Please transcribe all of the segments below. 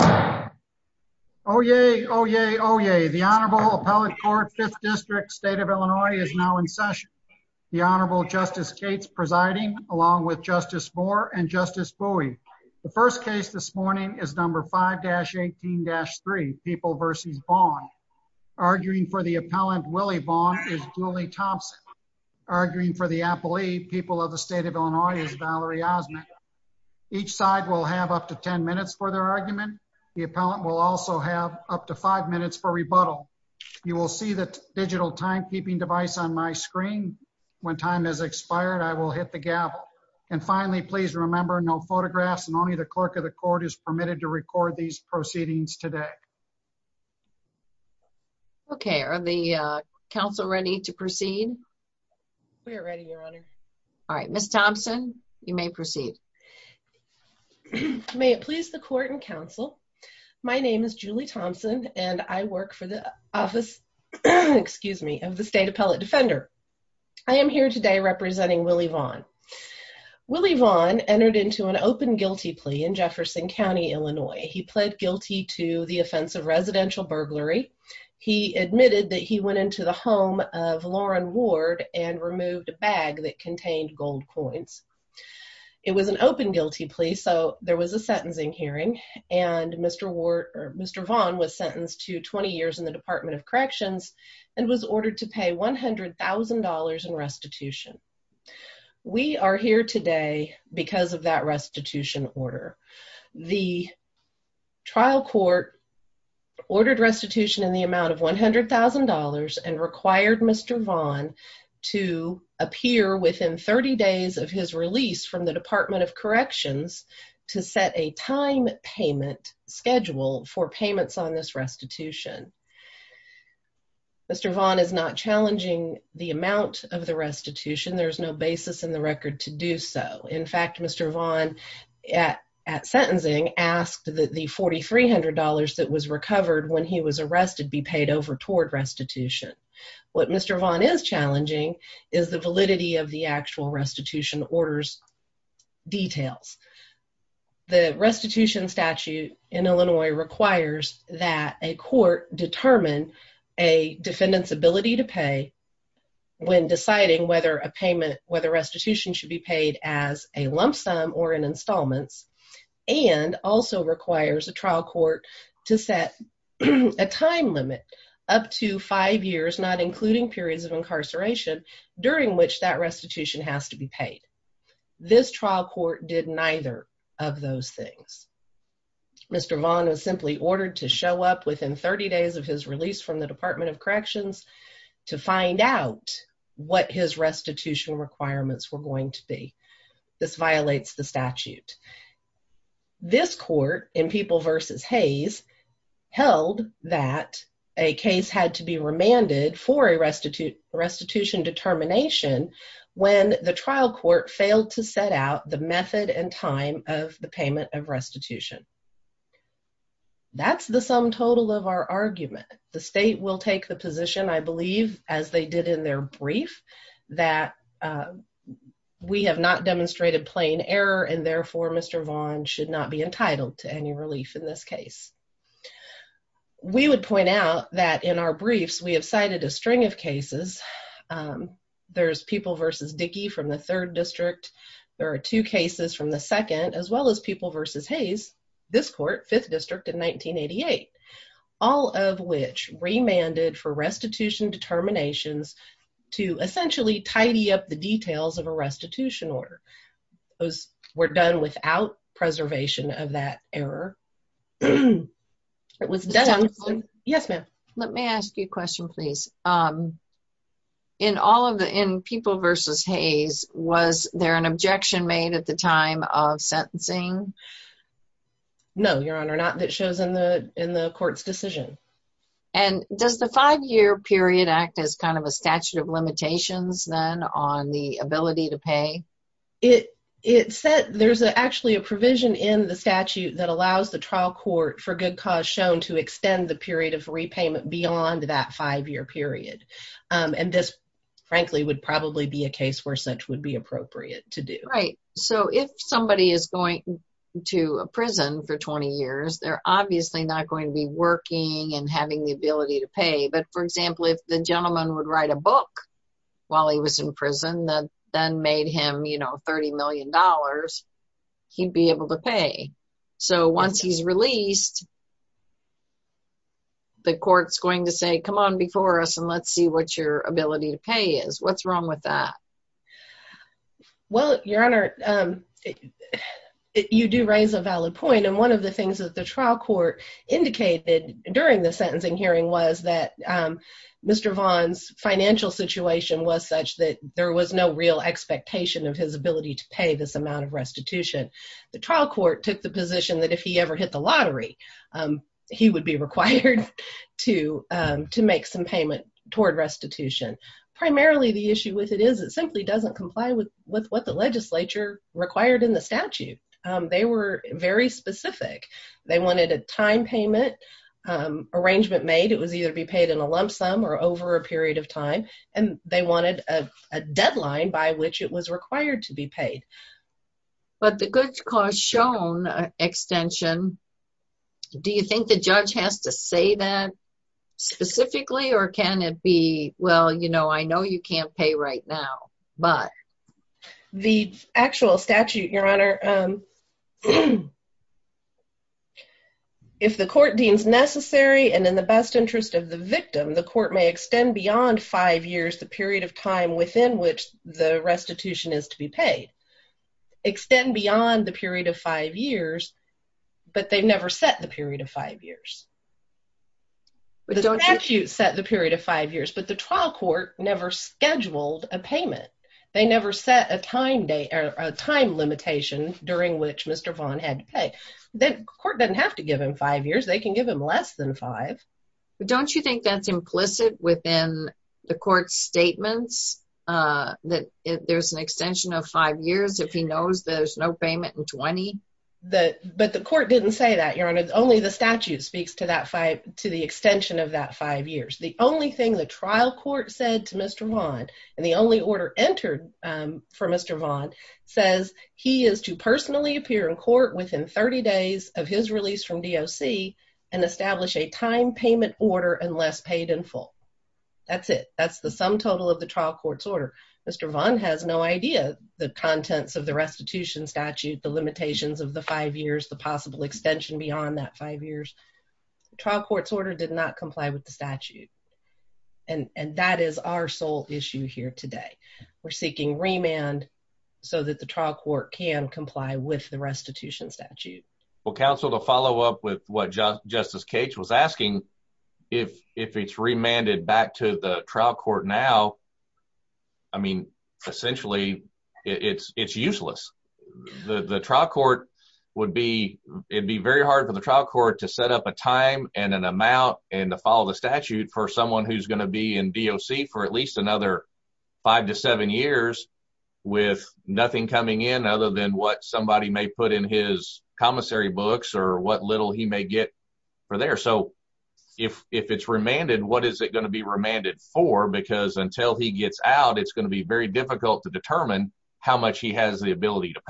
Oh, yay. Oh, yay. Oh, yay. The Honorable Appellate Court, 5th District, State of Illinois is now in session. The Honorable Justice Cates presiding, along with Justice Moore and Justice Bowie. The first case this morning is number 5-18-3, People v. Vaughn. Arguing for the appellant, Willie Vaughn, is Julie Thompson. Arguing for the appellee, People of the State of Illinois, is Valerie Osment. Each side will have up to 10 minutes for their argument. The appellant will also have up to 5 minutes for rebuttal. You will see the digital timekeeping device on my screen. When time has expired, I will hit the gavel. And finally, please remember no photographs and only the clerk of the court is permitted to record these proceedings today. Okay, are the Council ready to proceed? We are ready, Your Honor. Alright, Justice Thompson, you may proceed. May it please the Court and Council, my name is Julie Thompson and I work for the Office of the State Appellate Defender. I am here today representing Willie Vaughn. Willie Vaughn entered into an open guilty plea in Jefferson County, Illinois. He pled guilty to the offense of residential burglary. He admitted that he went into the home of Lauren Ward and removed a bag that contained gold coins. It was an open guilty plea, so there was a sentencing hearing and Mr. Vaughn was sentenced to 20 years in the Department of Corrections and was ordered to pay $100,000 in restitution. We are here today because of that restitution order. The trial court ordered restitution in the amount of $100,000 and required Mr. Vaughn to appear within 30 days of his release from the Department of Corrections to set a time payment schedule for payments on this restitution. Mr. Vaughn is not challenging the amount of the restitution. There is no basis in the record to do so. In fact, Mr. Vaughn at sentencing asked that the $4,300 that was recovered when he was arrested be paid over toward restitution. What Mr. Vaughn is challenging is the validity of the actual restitution orders details. The restitution statute in Illinois requires that a court determine a defendant's ability to pay when deciding whether a payment, whether restitution should be paid as a lump sum or in installments and also requires a trial court to set a time limit up to five years not including periods of incarceration during which that restitution has to be paid. This trial court did neither of those things. Mr. Vaughn was simply ordered to show up within 30 days of his release from the Department of Corrections to find out what his restitution requirements were going to be. This violates the statute. This court in People v. Hayes held that a case had to be remanded for a restitution determination when the trial court failed to set out the method and time of the payment of restitution. That's the sum total of our argument. The we have not demonstrated plain error and therefore Mr. Vaughn should not be entitled to any relief in this case. We would point out that in our briefs we have cited a string of cases. There's People v. Dickey from the 3rd District. There are two cases from the 2nd as well as People v. Hayes, this court, 5th District in 1988. All of which remanded for restitution determinations to essentially tidy up the details of a restitution order. Those were done without preservation of that error. Let me ask you a question please. In People v. Hayes, was there an objection made at the time of sentencing? No, Your Honor, not that shows in the court's decision. Does the 5-year period act as a statute of limitations then on the ability to pay? There's actually a provision in the statute that allows the trial court for good cause shown to extend the period of repayment beyond that 5-year period. This frankly would probably be a case where such would be appropriate to do. If somebody is going to a prison for 20 years, they're obviously not going to be working and having the ability to pay. But for example, if the gentleman would write a book while he was in prison that then made him $30 million, he'd be able to pay. So once he's released, the court's going to say, come on before us and let's see what your ability to pay is. What's wrong with that? Well, Your Honor, you do raise a valid point. And one of the things that the trial court indicated during the sentencing hearing was that Mr. Vaughn's financial situation was such that there was no real expectation of his ability to pay this amount of restitution. The trial court took the position that if he ever hit the lottery, he would be required to make some payment toward restitution. Primarily the issue with it is it simply doesn't comply with what the legislature required in the statute. They were very specific. They wanted a time payment arrangement made. It was either to be paid in a lump sum or over a period of time. And they wanted a deadline by which it was required to be paid. But the goods cost shown extension, do you think the judge has to say that specifically or can it be, well, you know, I know you can't pay right now, but the actual statute, Your Honor, if the court deems necessary and in the best interest of the victim, the court may extend beyond five years, the period of time within which the restitution is to be paid, extend beyond the period of five years, but they've never set the period of five years. The statute set the period of five years, but the trial court never scheduled a payment. They never set a time limitation during which Mr. Vaughn had to pay. The court doesn't have to give him five years. They can give him less than five. Don't you think that's implicit within the court's statements that there's an extension of five years if he knows there's no payment in 20? But the court didn't say that, Your Honor. Only the statute speaks to the extension of that five years. The only thing the trial court said to Mr. Vaughn and the only order entered for Mr. Vaughn says he is to personally appear in court within 30 days of his release from DOC and establish a time payment order unless paid in full. That's it. That's the sum total of the trial court's order. Mr. Vaughn has no idea the contents of the restitution statute, the limitations of the five years, the possible extension beyond that five years. The trial court's order did not comply with the statute, and that is our sole issue here today. We're seeking remand so that the trial court can comply with the restitution statute. Well, counsel, to follow up with what Justice Cates was asking, if it's remanded back to the trial court now, I mean, essentially, it's useless. The trial court would be, it'd be very hard for the trial court to set up a time and an amount and to follow the statute for someone who's going to be in DOC for at least another five to seven years with nothing coming in other than what somebody may put in his commissary books or what little he may get for there. So if it's remanded, what is it going to be remanded for? Because until he gets out, it's going to be very difficult to determine how much he has the ability to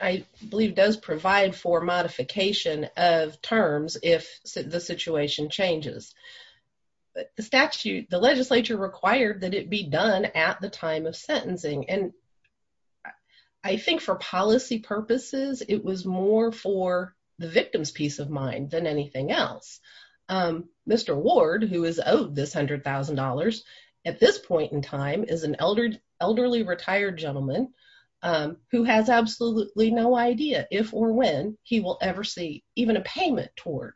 I believe does provide for modification of terms if the situation changes. But the statute, the legislature required that it be done at the time of sentencing. And I think for policy purposes, it was more for the victim's peace of mind than anything else. Mr. Ward, who is owed this $100,000 at this point in time, is an elderly retired gentleman who has absolutely no idea if or when he will ever see even a payment toward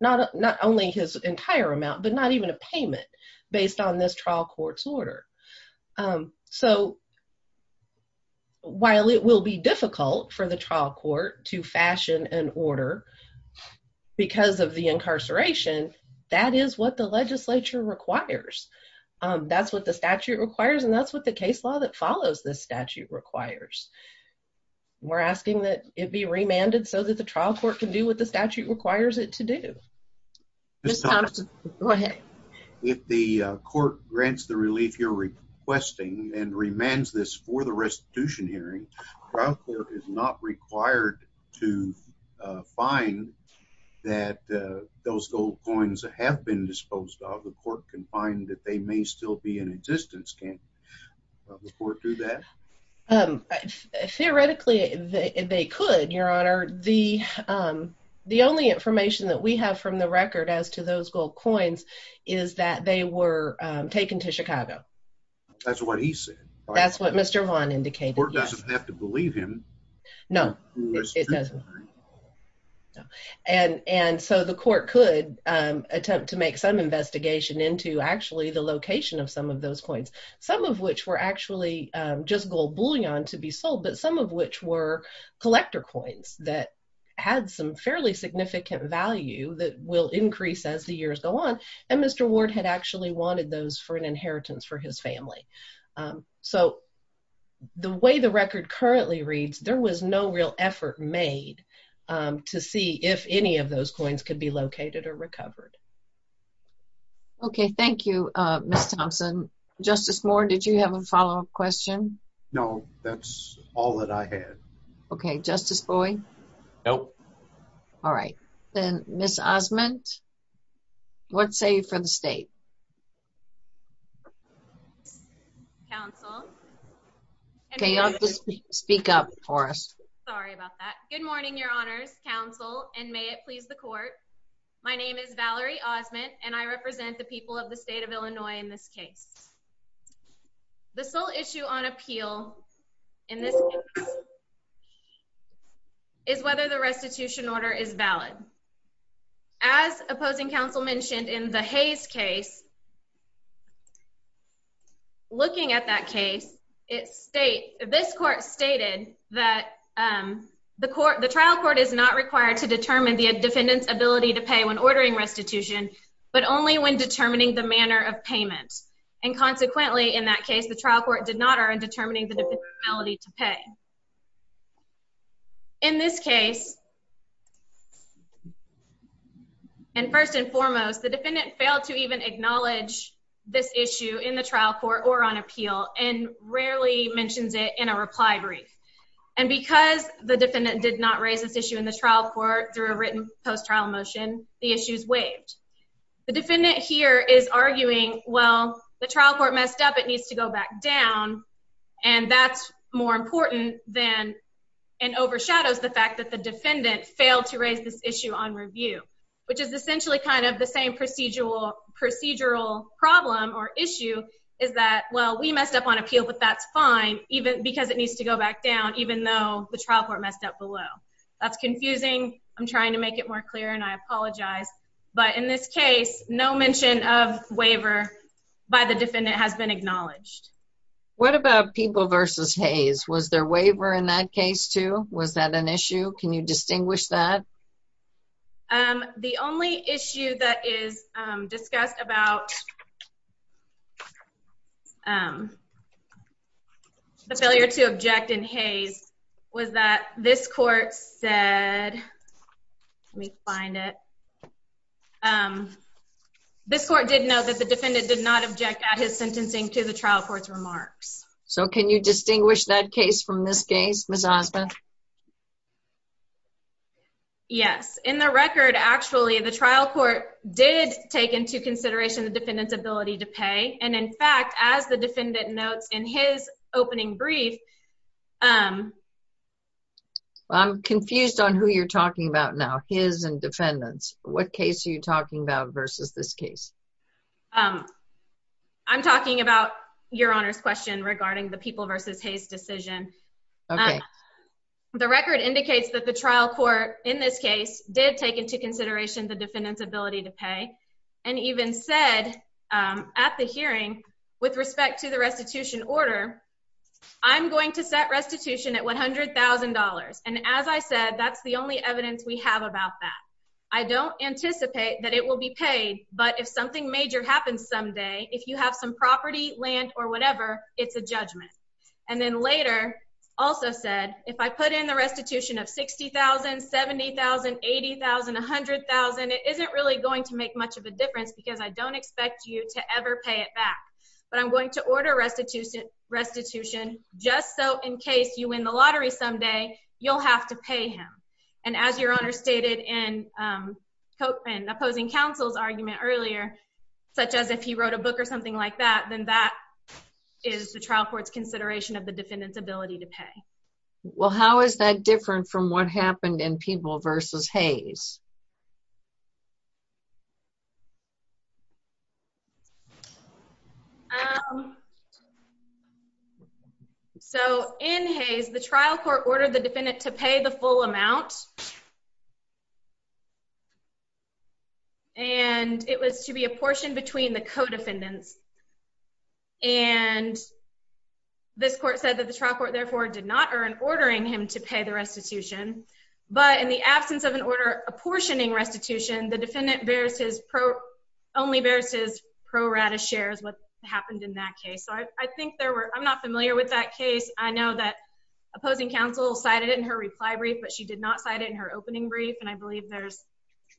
not not only his entire amount, but not even a payment based on this trial court's order. So while it will be difficult for the trial court to fashion an order, because of the incarceration, that is what the legislature requires. That's what the statute requires. And that's what the case law that follows this statute requires. We're asking that it be remanded so that the trial court can do what the statute requires it to do. Go ahead. If the court grants the relief you're requesting and remands this for the restitution hearing, trial court is not required to find that those gold coins have been disposed of the court can find that they may still be in existence. Can the court do that? Theoretically, they could Your Honor, the the only information that we have from the record as to those gold coins is that they were taken to Chicago. That's what he said. That's what Mr. Vaughn indicated doesn't have to believe him. No, it doesn't. And and so the court could attempt to make some investigation into actually the location of some of those coins, some of which were actually just gold bullion to be sold, but some of which were collector coins that had some fairly significant value that will increase as the years go on. And Mr. Ward had actually wanted those for an inheritance for his family. So the way the record currently reads, there was no real effort made to see if any of those coins could be located or recovered. Okay, thank you, Mr. Thompson. Justice Moore, did you have a follow up question? No, that's all that I had. Okay, Justice Boyd. Nope. All right, then Miss Osmond. What say for the state? Speak up for us. Sorry about that. Good morning, Your Honors Council, and may it please the court. My name is Valerie Osmond, and I represent the people of the state of Illinois. In this case, the sole issue on appeal in this is whether the restitution order is valid. As opposing counsel mentioned in the Hayes case, looking at that case, this court stated that the trial court is not required to determine the defendant's ability to pay when ordering restitution, but only when determining the manner of payment. And consequently, in that case, the trial court did not are in determining the ability to pay. In this case, and first and foremost, the defendant failed to even acknowledge this issue in the trial court or on appeal and rarely mentions it in a reply brief. And because the defendant did not raise this issue in the trial court through a written post trial motion, the issues waived. The defendant here is arguing, well, the trial court messed up. It needs to go back down. And that's more important than and overshadows the fact that the defendant failed to raise this issue on review, which is essentially kind of the same procedural problem or issue is that, well, we messed up on appeal, but that's fine because it needs to go back down, even though the trial court messed up below. That's confusing. I'm trying to make it more clear, and I apologize. But in this case, no mention of waiver by the defendant has been acknowledged. What about people versus Hayes? Was there waiver in that case too? Was that an issue? Can you distinguish that? The only issue that is discussed about the failure to object in Hayes was that this court said, let me find it. This court did know that the defendant did not object at his sentencing to the trial court's remarks. So can you distinguish that case from this case, Ms. Osmond? Yes. In the record, actually, the trial court did take into consideration the defendant's ability to pay. And in fact, as the defendant notes in his opening brief. I'm confused on who you're talking about now, his and defendants. What case are you talking about versus this case? I'm talking about your Honor's question regarding the people versus Hayes decision. Okay. The record indicates that the trial court in this case did take into consideration the defendant's ability to pay and even said at the hearing, with respect to the restitution order, I'm going to set restitution at $100,000. And as I said, that's the only evidence we have about that. I don't anticipate that it will be paid, but if something major happens someday, if you have some property land or whatever, it's a judgment. And then later also said, if I put in the restitution of $60,000, $70,000, $80,000, $100,000, it isn't really going to make much of a difference because I don't expect you to ever pay it back. But I'm going to order restitution just so in case you win the lottery someday, you'll have to pay him. And as your Honor stated in opposing counsel's argument earlier, such as if he wrote a book or something like that, then that is the trial court's consideration of the defendant's ability to pay. Well, how is that different from what happened in people versus Hayes? So in Hayes, the trial court ordered the defendant to pay the full amount. And it was to be apportioned between the co-defendants. And this court said that the trial court therefore did not earn ordering him to pay the restitution. But in the absence of an order apportioning restitution, the defendant only bears his or her share of what happened in that case. So I think there were, I'm not familiar with that case. I know that opposing counsel cited it in her reply brief, but she did not cite it in her opening brief. And I believe there's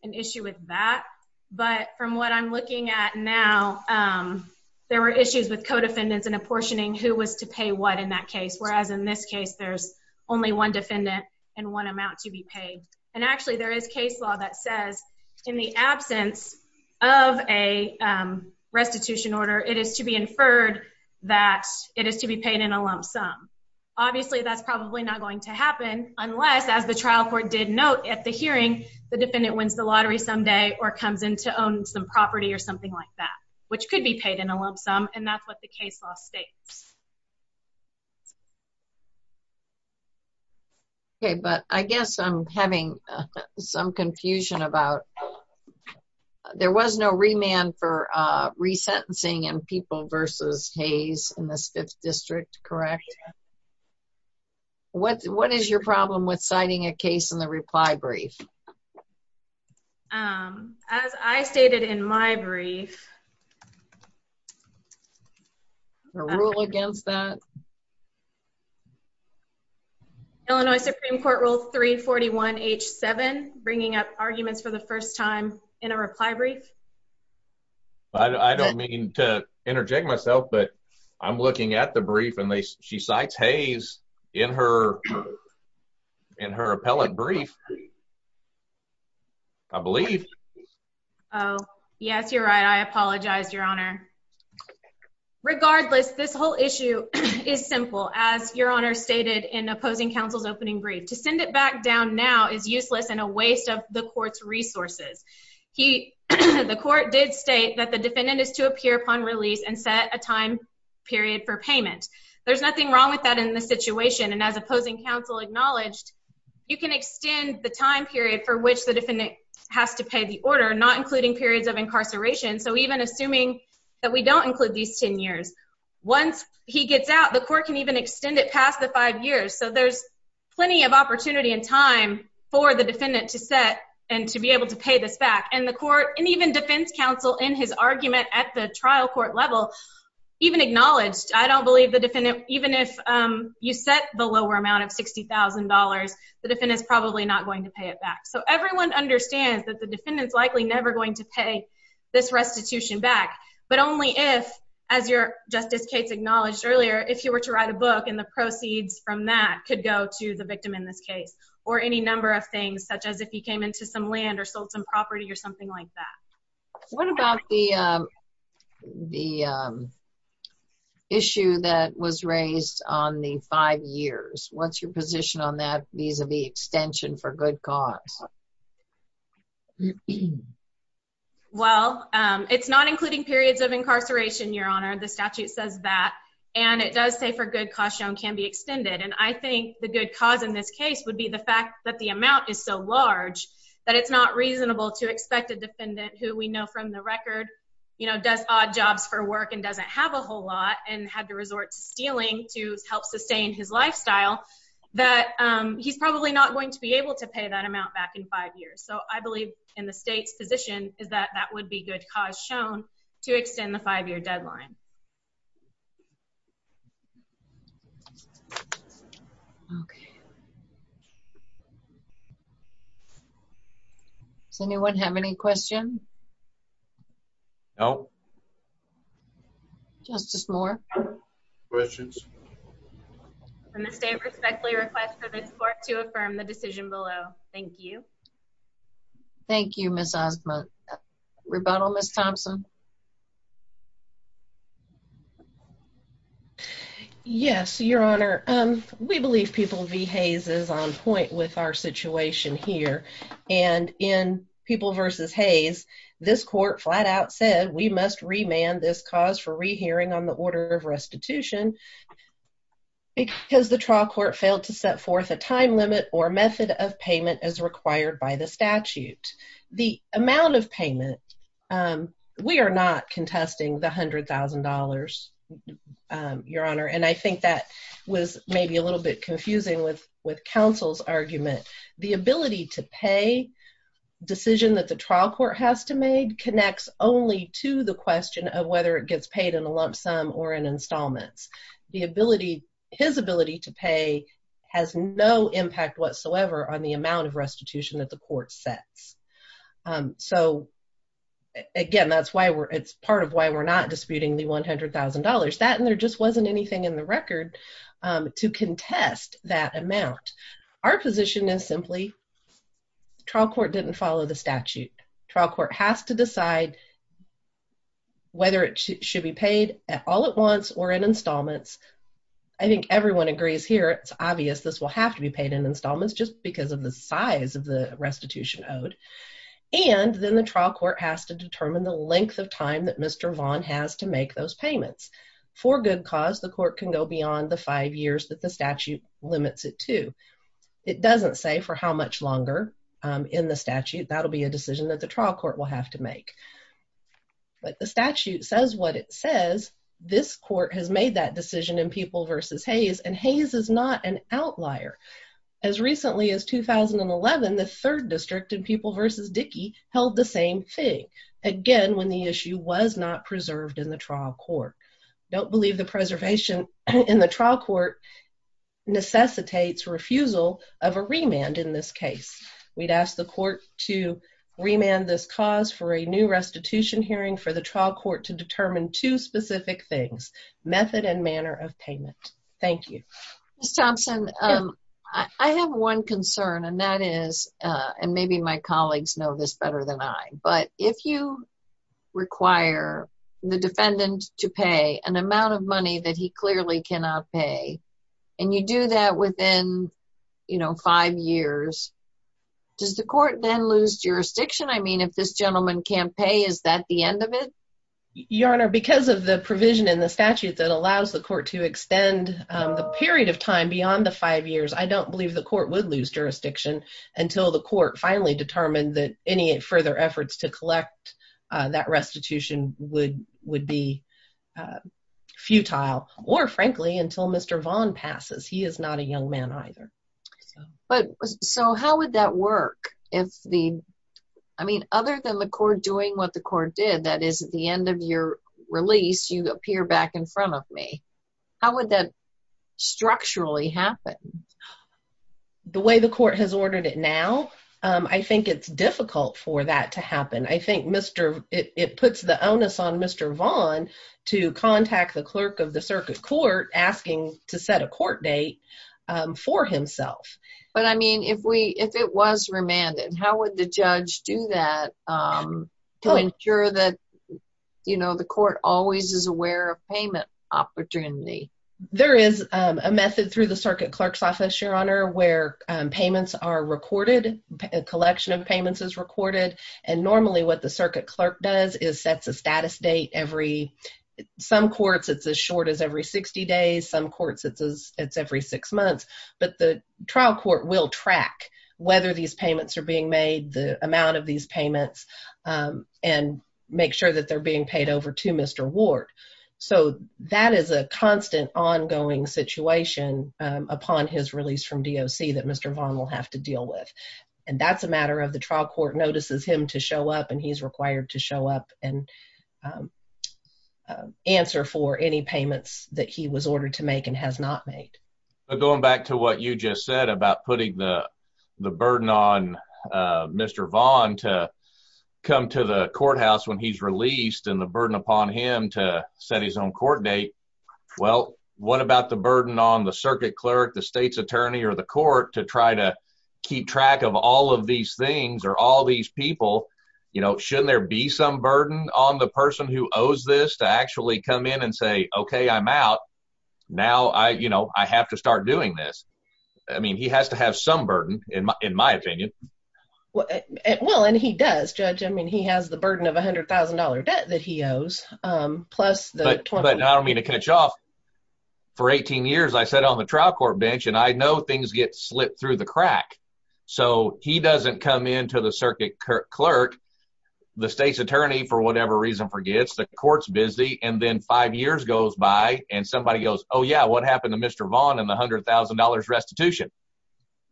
an issue with that. But from what I'm looking at now, there were issues with co-defendants and apportioning who was to pay what in that case. Whereas in this case, there's only one defendant and one amount to be paid. And actually, there is case law that says in the absence of a restitution order, it is to be inferred that it is to be paid in a lump sum. Obviously, that's probably not going to happen unless, as the trial court did note at the hearing, the defendant wins the lottery someday or comes in to own some property or something like that, which could be paid in a lump sum. And that's what the case law states. Okay, but I guess I'm having some confusion about, there was no remand for resentencing in People v. Hayes in this 5th District, correct? What is your problem with citing a case in the reply brief? As I stated in my brief, Illinois Supreme Court Rule 341-H-7, bringing up arguments for the first time in a reply brief. I don't mean to interject myself, but I'm looking at the brief and she cites Hayes in her appellate brief. I believe. Oh, yes, you're right. I apologize, Your Honor. Regardless, this whole issue is simple, as Your Honor stated in opposing counsel's opening brief. To send it back down now is useless and a waste of the court's resources. The court did state that the defendant is to appear upon release and set a time period for payment. There's nothing wrong with that in this situation, and as opposing counsel acknowledged, you can extend the time period for which the defendant has to pay the order, not including periods of incarceration, so even assuming that we don't include these 10 years. Once he gets out, the court can even extend it past the five years, so there's plenty of opportunity and time for the defendant to set and to be able to pay this back. And the court, and even defense counsel in his argument at the trial court level, even acknowledged, I don't believe the defendant, even if you set the lower amount of $60,000, the defendant's probably not going to pay it back. So everyone understands that the defendant's likely never going to pay this restitution back, but only if, as Justice Cates acknowledged earlier, if you were to write a book and the proceeds from that could go to the victim in this case, or any number of things, such as if he came into some land or sold some property or something like that. What about the issue that was raised on the five years? What's your position on that vis-a-vis extension for good cause? Well, it's not including periods of incarceration, Your Honor. The statute says that, and it does say for good cause shown can be extended, and I think the good cause in this case would be the fact that the amount is so large that it's not reasonable to expect a defendant who we know from the record does odd jobs for work and doesn't have a whole lot and had to resort to stealing to help sustain his lifestyle, that he's probably not going to be able to pay that amount back in five years. So I believe in the state's position is that that would be good cause shown to extend the five-year deadline. Does anyone have any questions? No. Justice Moore? Questions? The state respectfully requests for this court to affirm the decision below. Thank you. Thank you, Ms. Osmond. Rebuttal, Ms. Thompson? Yes, Your Honor. We believe People v. Hayes is on point with our situation here, and in People v. Hayes, this court flat-out said we must remand this cause for rehearing on the order of restitution because the trial court failed to set forth a time limit or method of payment as required by the statute. The amount of payment, we are not contesting the $100,000, Your Honor, and I think that was maybe a little bit confusing with counsel's argument. The ability to pay decision that the trial court has to make connects only to the question of whether it gets paid in a lump sum or in installments. His ability to pay has no impact whatsoever on the amount of restitution that the court sets. So, again, that's part of why we're not disputing the $100,000. That and there just wasn't anything in the record to contest that amount. Our position is simply trial court didn't follow the statute. Trial court has to decide whether it should be paid at all at once or in installments. I think everyone agrees here. It's obvious this will have to be paid in installments just because of the size of the restitution owed. And then the trial court has to determine the length of time that Mr. Vaughn has to make those payments. For good cause, the court can go beyond the five years that the statute limits it to. It doesn't say for how much longer in the statute. That'll be a decision that the trial court will have to make. But the statute says what it says. This court has made that decision in People v. Hayes, and Hayes is not an outlier. As recently as 2011, the third district in People v. Dickey held the same thing. Again, when the issue was not preserved in the trial court. Don't believe the preservation in the trial court necessitates refusal of a remand in this case. We'd ask the court to remand this cause for a new restitution hearing for the trial court to determine two specific things. Method and manner of payment. Thank you. Ms. Thompson, I have one concern, and that is, and maybe my colleagues know this better than I, but if you require the defendant to pay an amount of money that he clearly cannot pay, and you do that within, you know, five years, does the court then lose jurisdiction? I mean, if this gentleman can't pay, is that the end of it? Your Honor, because of the provision in the statute that allows the court to extend the period of time beyond the five years, I don't believe the court would lose jurisdiction until the court finally determined that any further efforts to collect that restitution would be futile, or frankly, until Mr. Vaughn passes. He is not a young man either. So how would that work if the, I mean, other than the court doing what the court did, that is, at the end of your release, you appear back in front of me. How would that structurally happen? The way the court has ordered it now, I think it's difficult for that to happen. I think it puts the onus on Mr. Vaughn to contact the clerk of the circuit court asking to set a court date for himself. But I mean, if it was remanded, how would the judge do that to ensure that, you know, the court always is aware of payment opportunity? There is a method through the circuit clerk's office, Your Honor, where payments are recorded, a collection of payments is recorded. And normally what the circuit clerk does is sets a status date every, some courts it's as short as every 60 days, some courts it's every six months. But the trial court will track whether these payments are being made, the amount of these payments, and make sure that they're being paid over to Mr. Ward. So that is a constant ongoing situation upon his release from DOC that Mr. Vaughn will have to deal with. And that's a matter of the trial court notices him to show up and he's required to show up and answer for any payments that he was ordered to make and has not made. But going back to what you just said about putting the burden on Mr. Vaughn to come to the courthouse when he's released and the burden upon him to set his own court date. Well, what about the burden on the circuit clerk, the state's attorney, or the court to try to keep track of all of these things or all these people? You know, shouldn't there be some burden on the person who owes this to actually come in and say, okay, I'm out. Now I, you know, I have to start doing this. I mean, he has to have some burden, in my opinion. Well, and he does, Judge. I mean, he has the burden of $100,000 debt that he owes. But I don't mean to catch off. For 18 years, I sat on the trial court bench and I know things get slipped through the crack. So he doesn't come into the circuit clerk, the state's attorney, for whatever reason, forgets the court's busy. And then five years goes by and somebody goes, oh, yeah, what happened to Mr. Vaughn and the $100,000 restitution?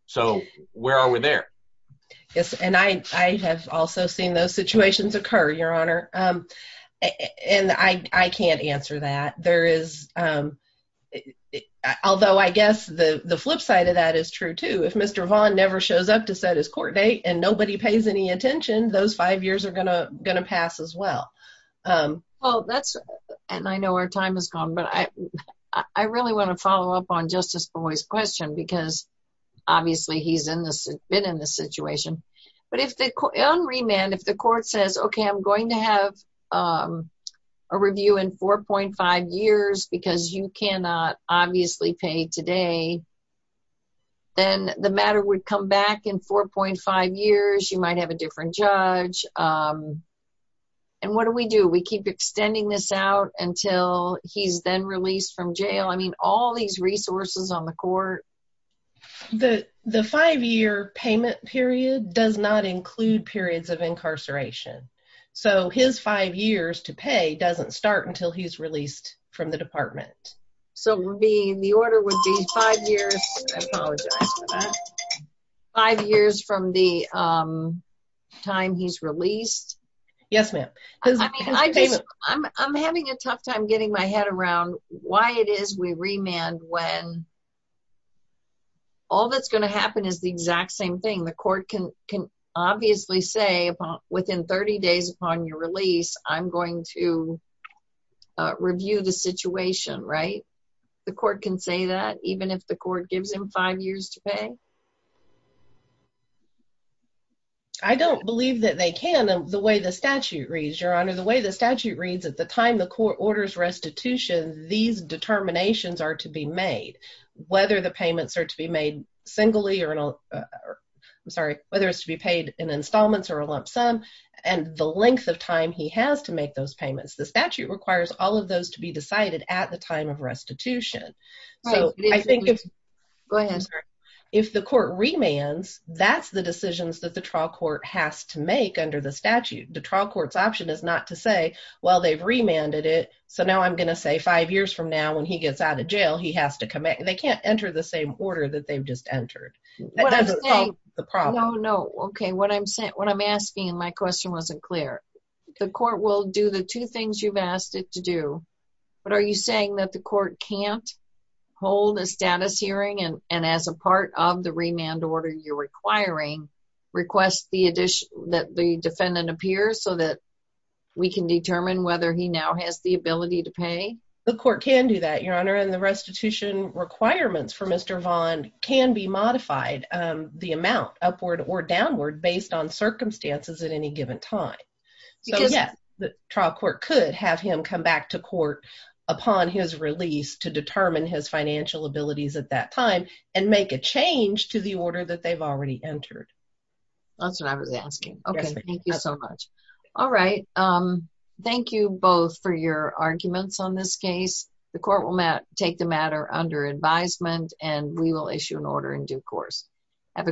So where are we there? Yes. And I have also seen those situations occur, Your Honor. And I can't answer that. There is. Although I guess the flip side of that is true, too. If Mr. Vaughn never shows up to set his court date and nobody pays any attention, those five years are going to going to pass as well. Well, that's and I know our time is gone, but I really want to follow up on Justice Boyd's question because obviously he's been in this situation. But on remand, if the court says, OK, I'm going to have a review in 4.5 years because you cannot obviously pay today. Then the matter would come back in 4.5 years, you might have a different judge. And what do we do? We keep extending this out until he's then released from jail. I mean, all these resources on the court. The five year payment period does not include periods of incarceration. So his five years to pay doesn't start until he's released from the department. So the order would be five years. Five years from the time he's released. Yes, ma'am. I'm having a tough time getting my head around why it is we remand when all that's going to happen is the exact same thing. The court can can obviously say within 30 days upon your release, I'm going to review the situation. Right. The court can say that even if the court gives him five years to pay. I don't believe that they can. The way the statute reads, your honor, the way the statute reads at the time the court orders restitution, these determinations are to be made. Whether the payments are to be made singly or I'm sorry, whether it's to be paid in installments or a lump sum and the length of time he has to make those payments. The statute requires all of those to be decided at the time of restitution. Go ahead. If the court remands, that's the decisions that the trial court has to make under the statute. The trial court's option is not to say, well, they've remanded it. So now I'm going to say five years from now when he gets out of jail, he has to come back. They can't enter the same order that they've just entered. No, no. Okay. What I'm saying, what I'm asking, my question wasn't clear. The court will do the two things you've asked it to do. But are you saying that the court can't hold a status hearing and as a part of the remand order you're requiring, request the addition that the defendant appears so that we can determine whether he now has the ability to pay? The court can do that, your honor. And the restitution requirements for Mr. Vaughn can be modified the amount upward or downward based on circumstances at any given time. The trial court could have him come back to court upon his release to determine his financial abilities at that time and make a change to the order that they've already entered. That's what I was asking. Okay, thank you so much. All right. Thank you both for your arguments on this case. The court will take the matter under advisement and we will issue an order in due course. Have a great day.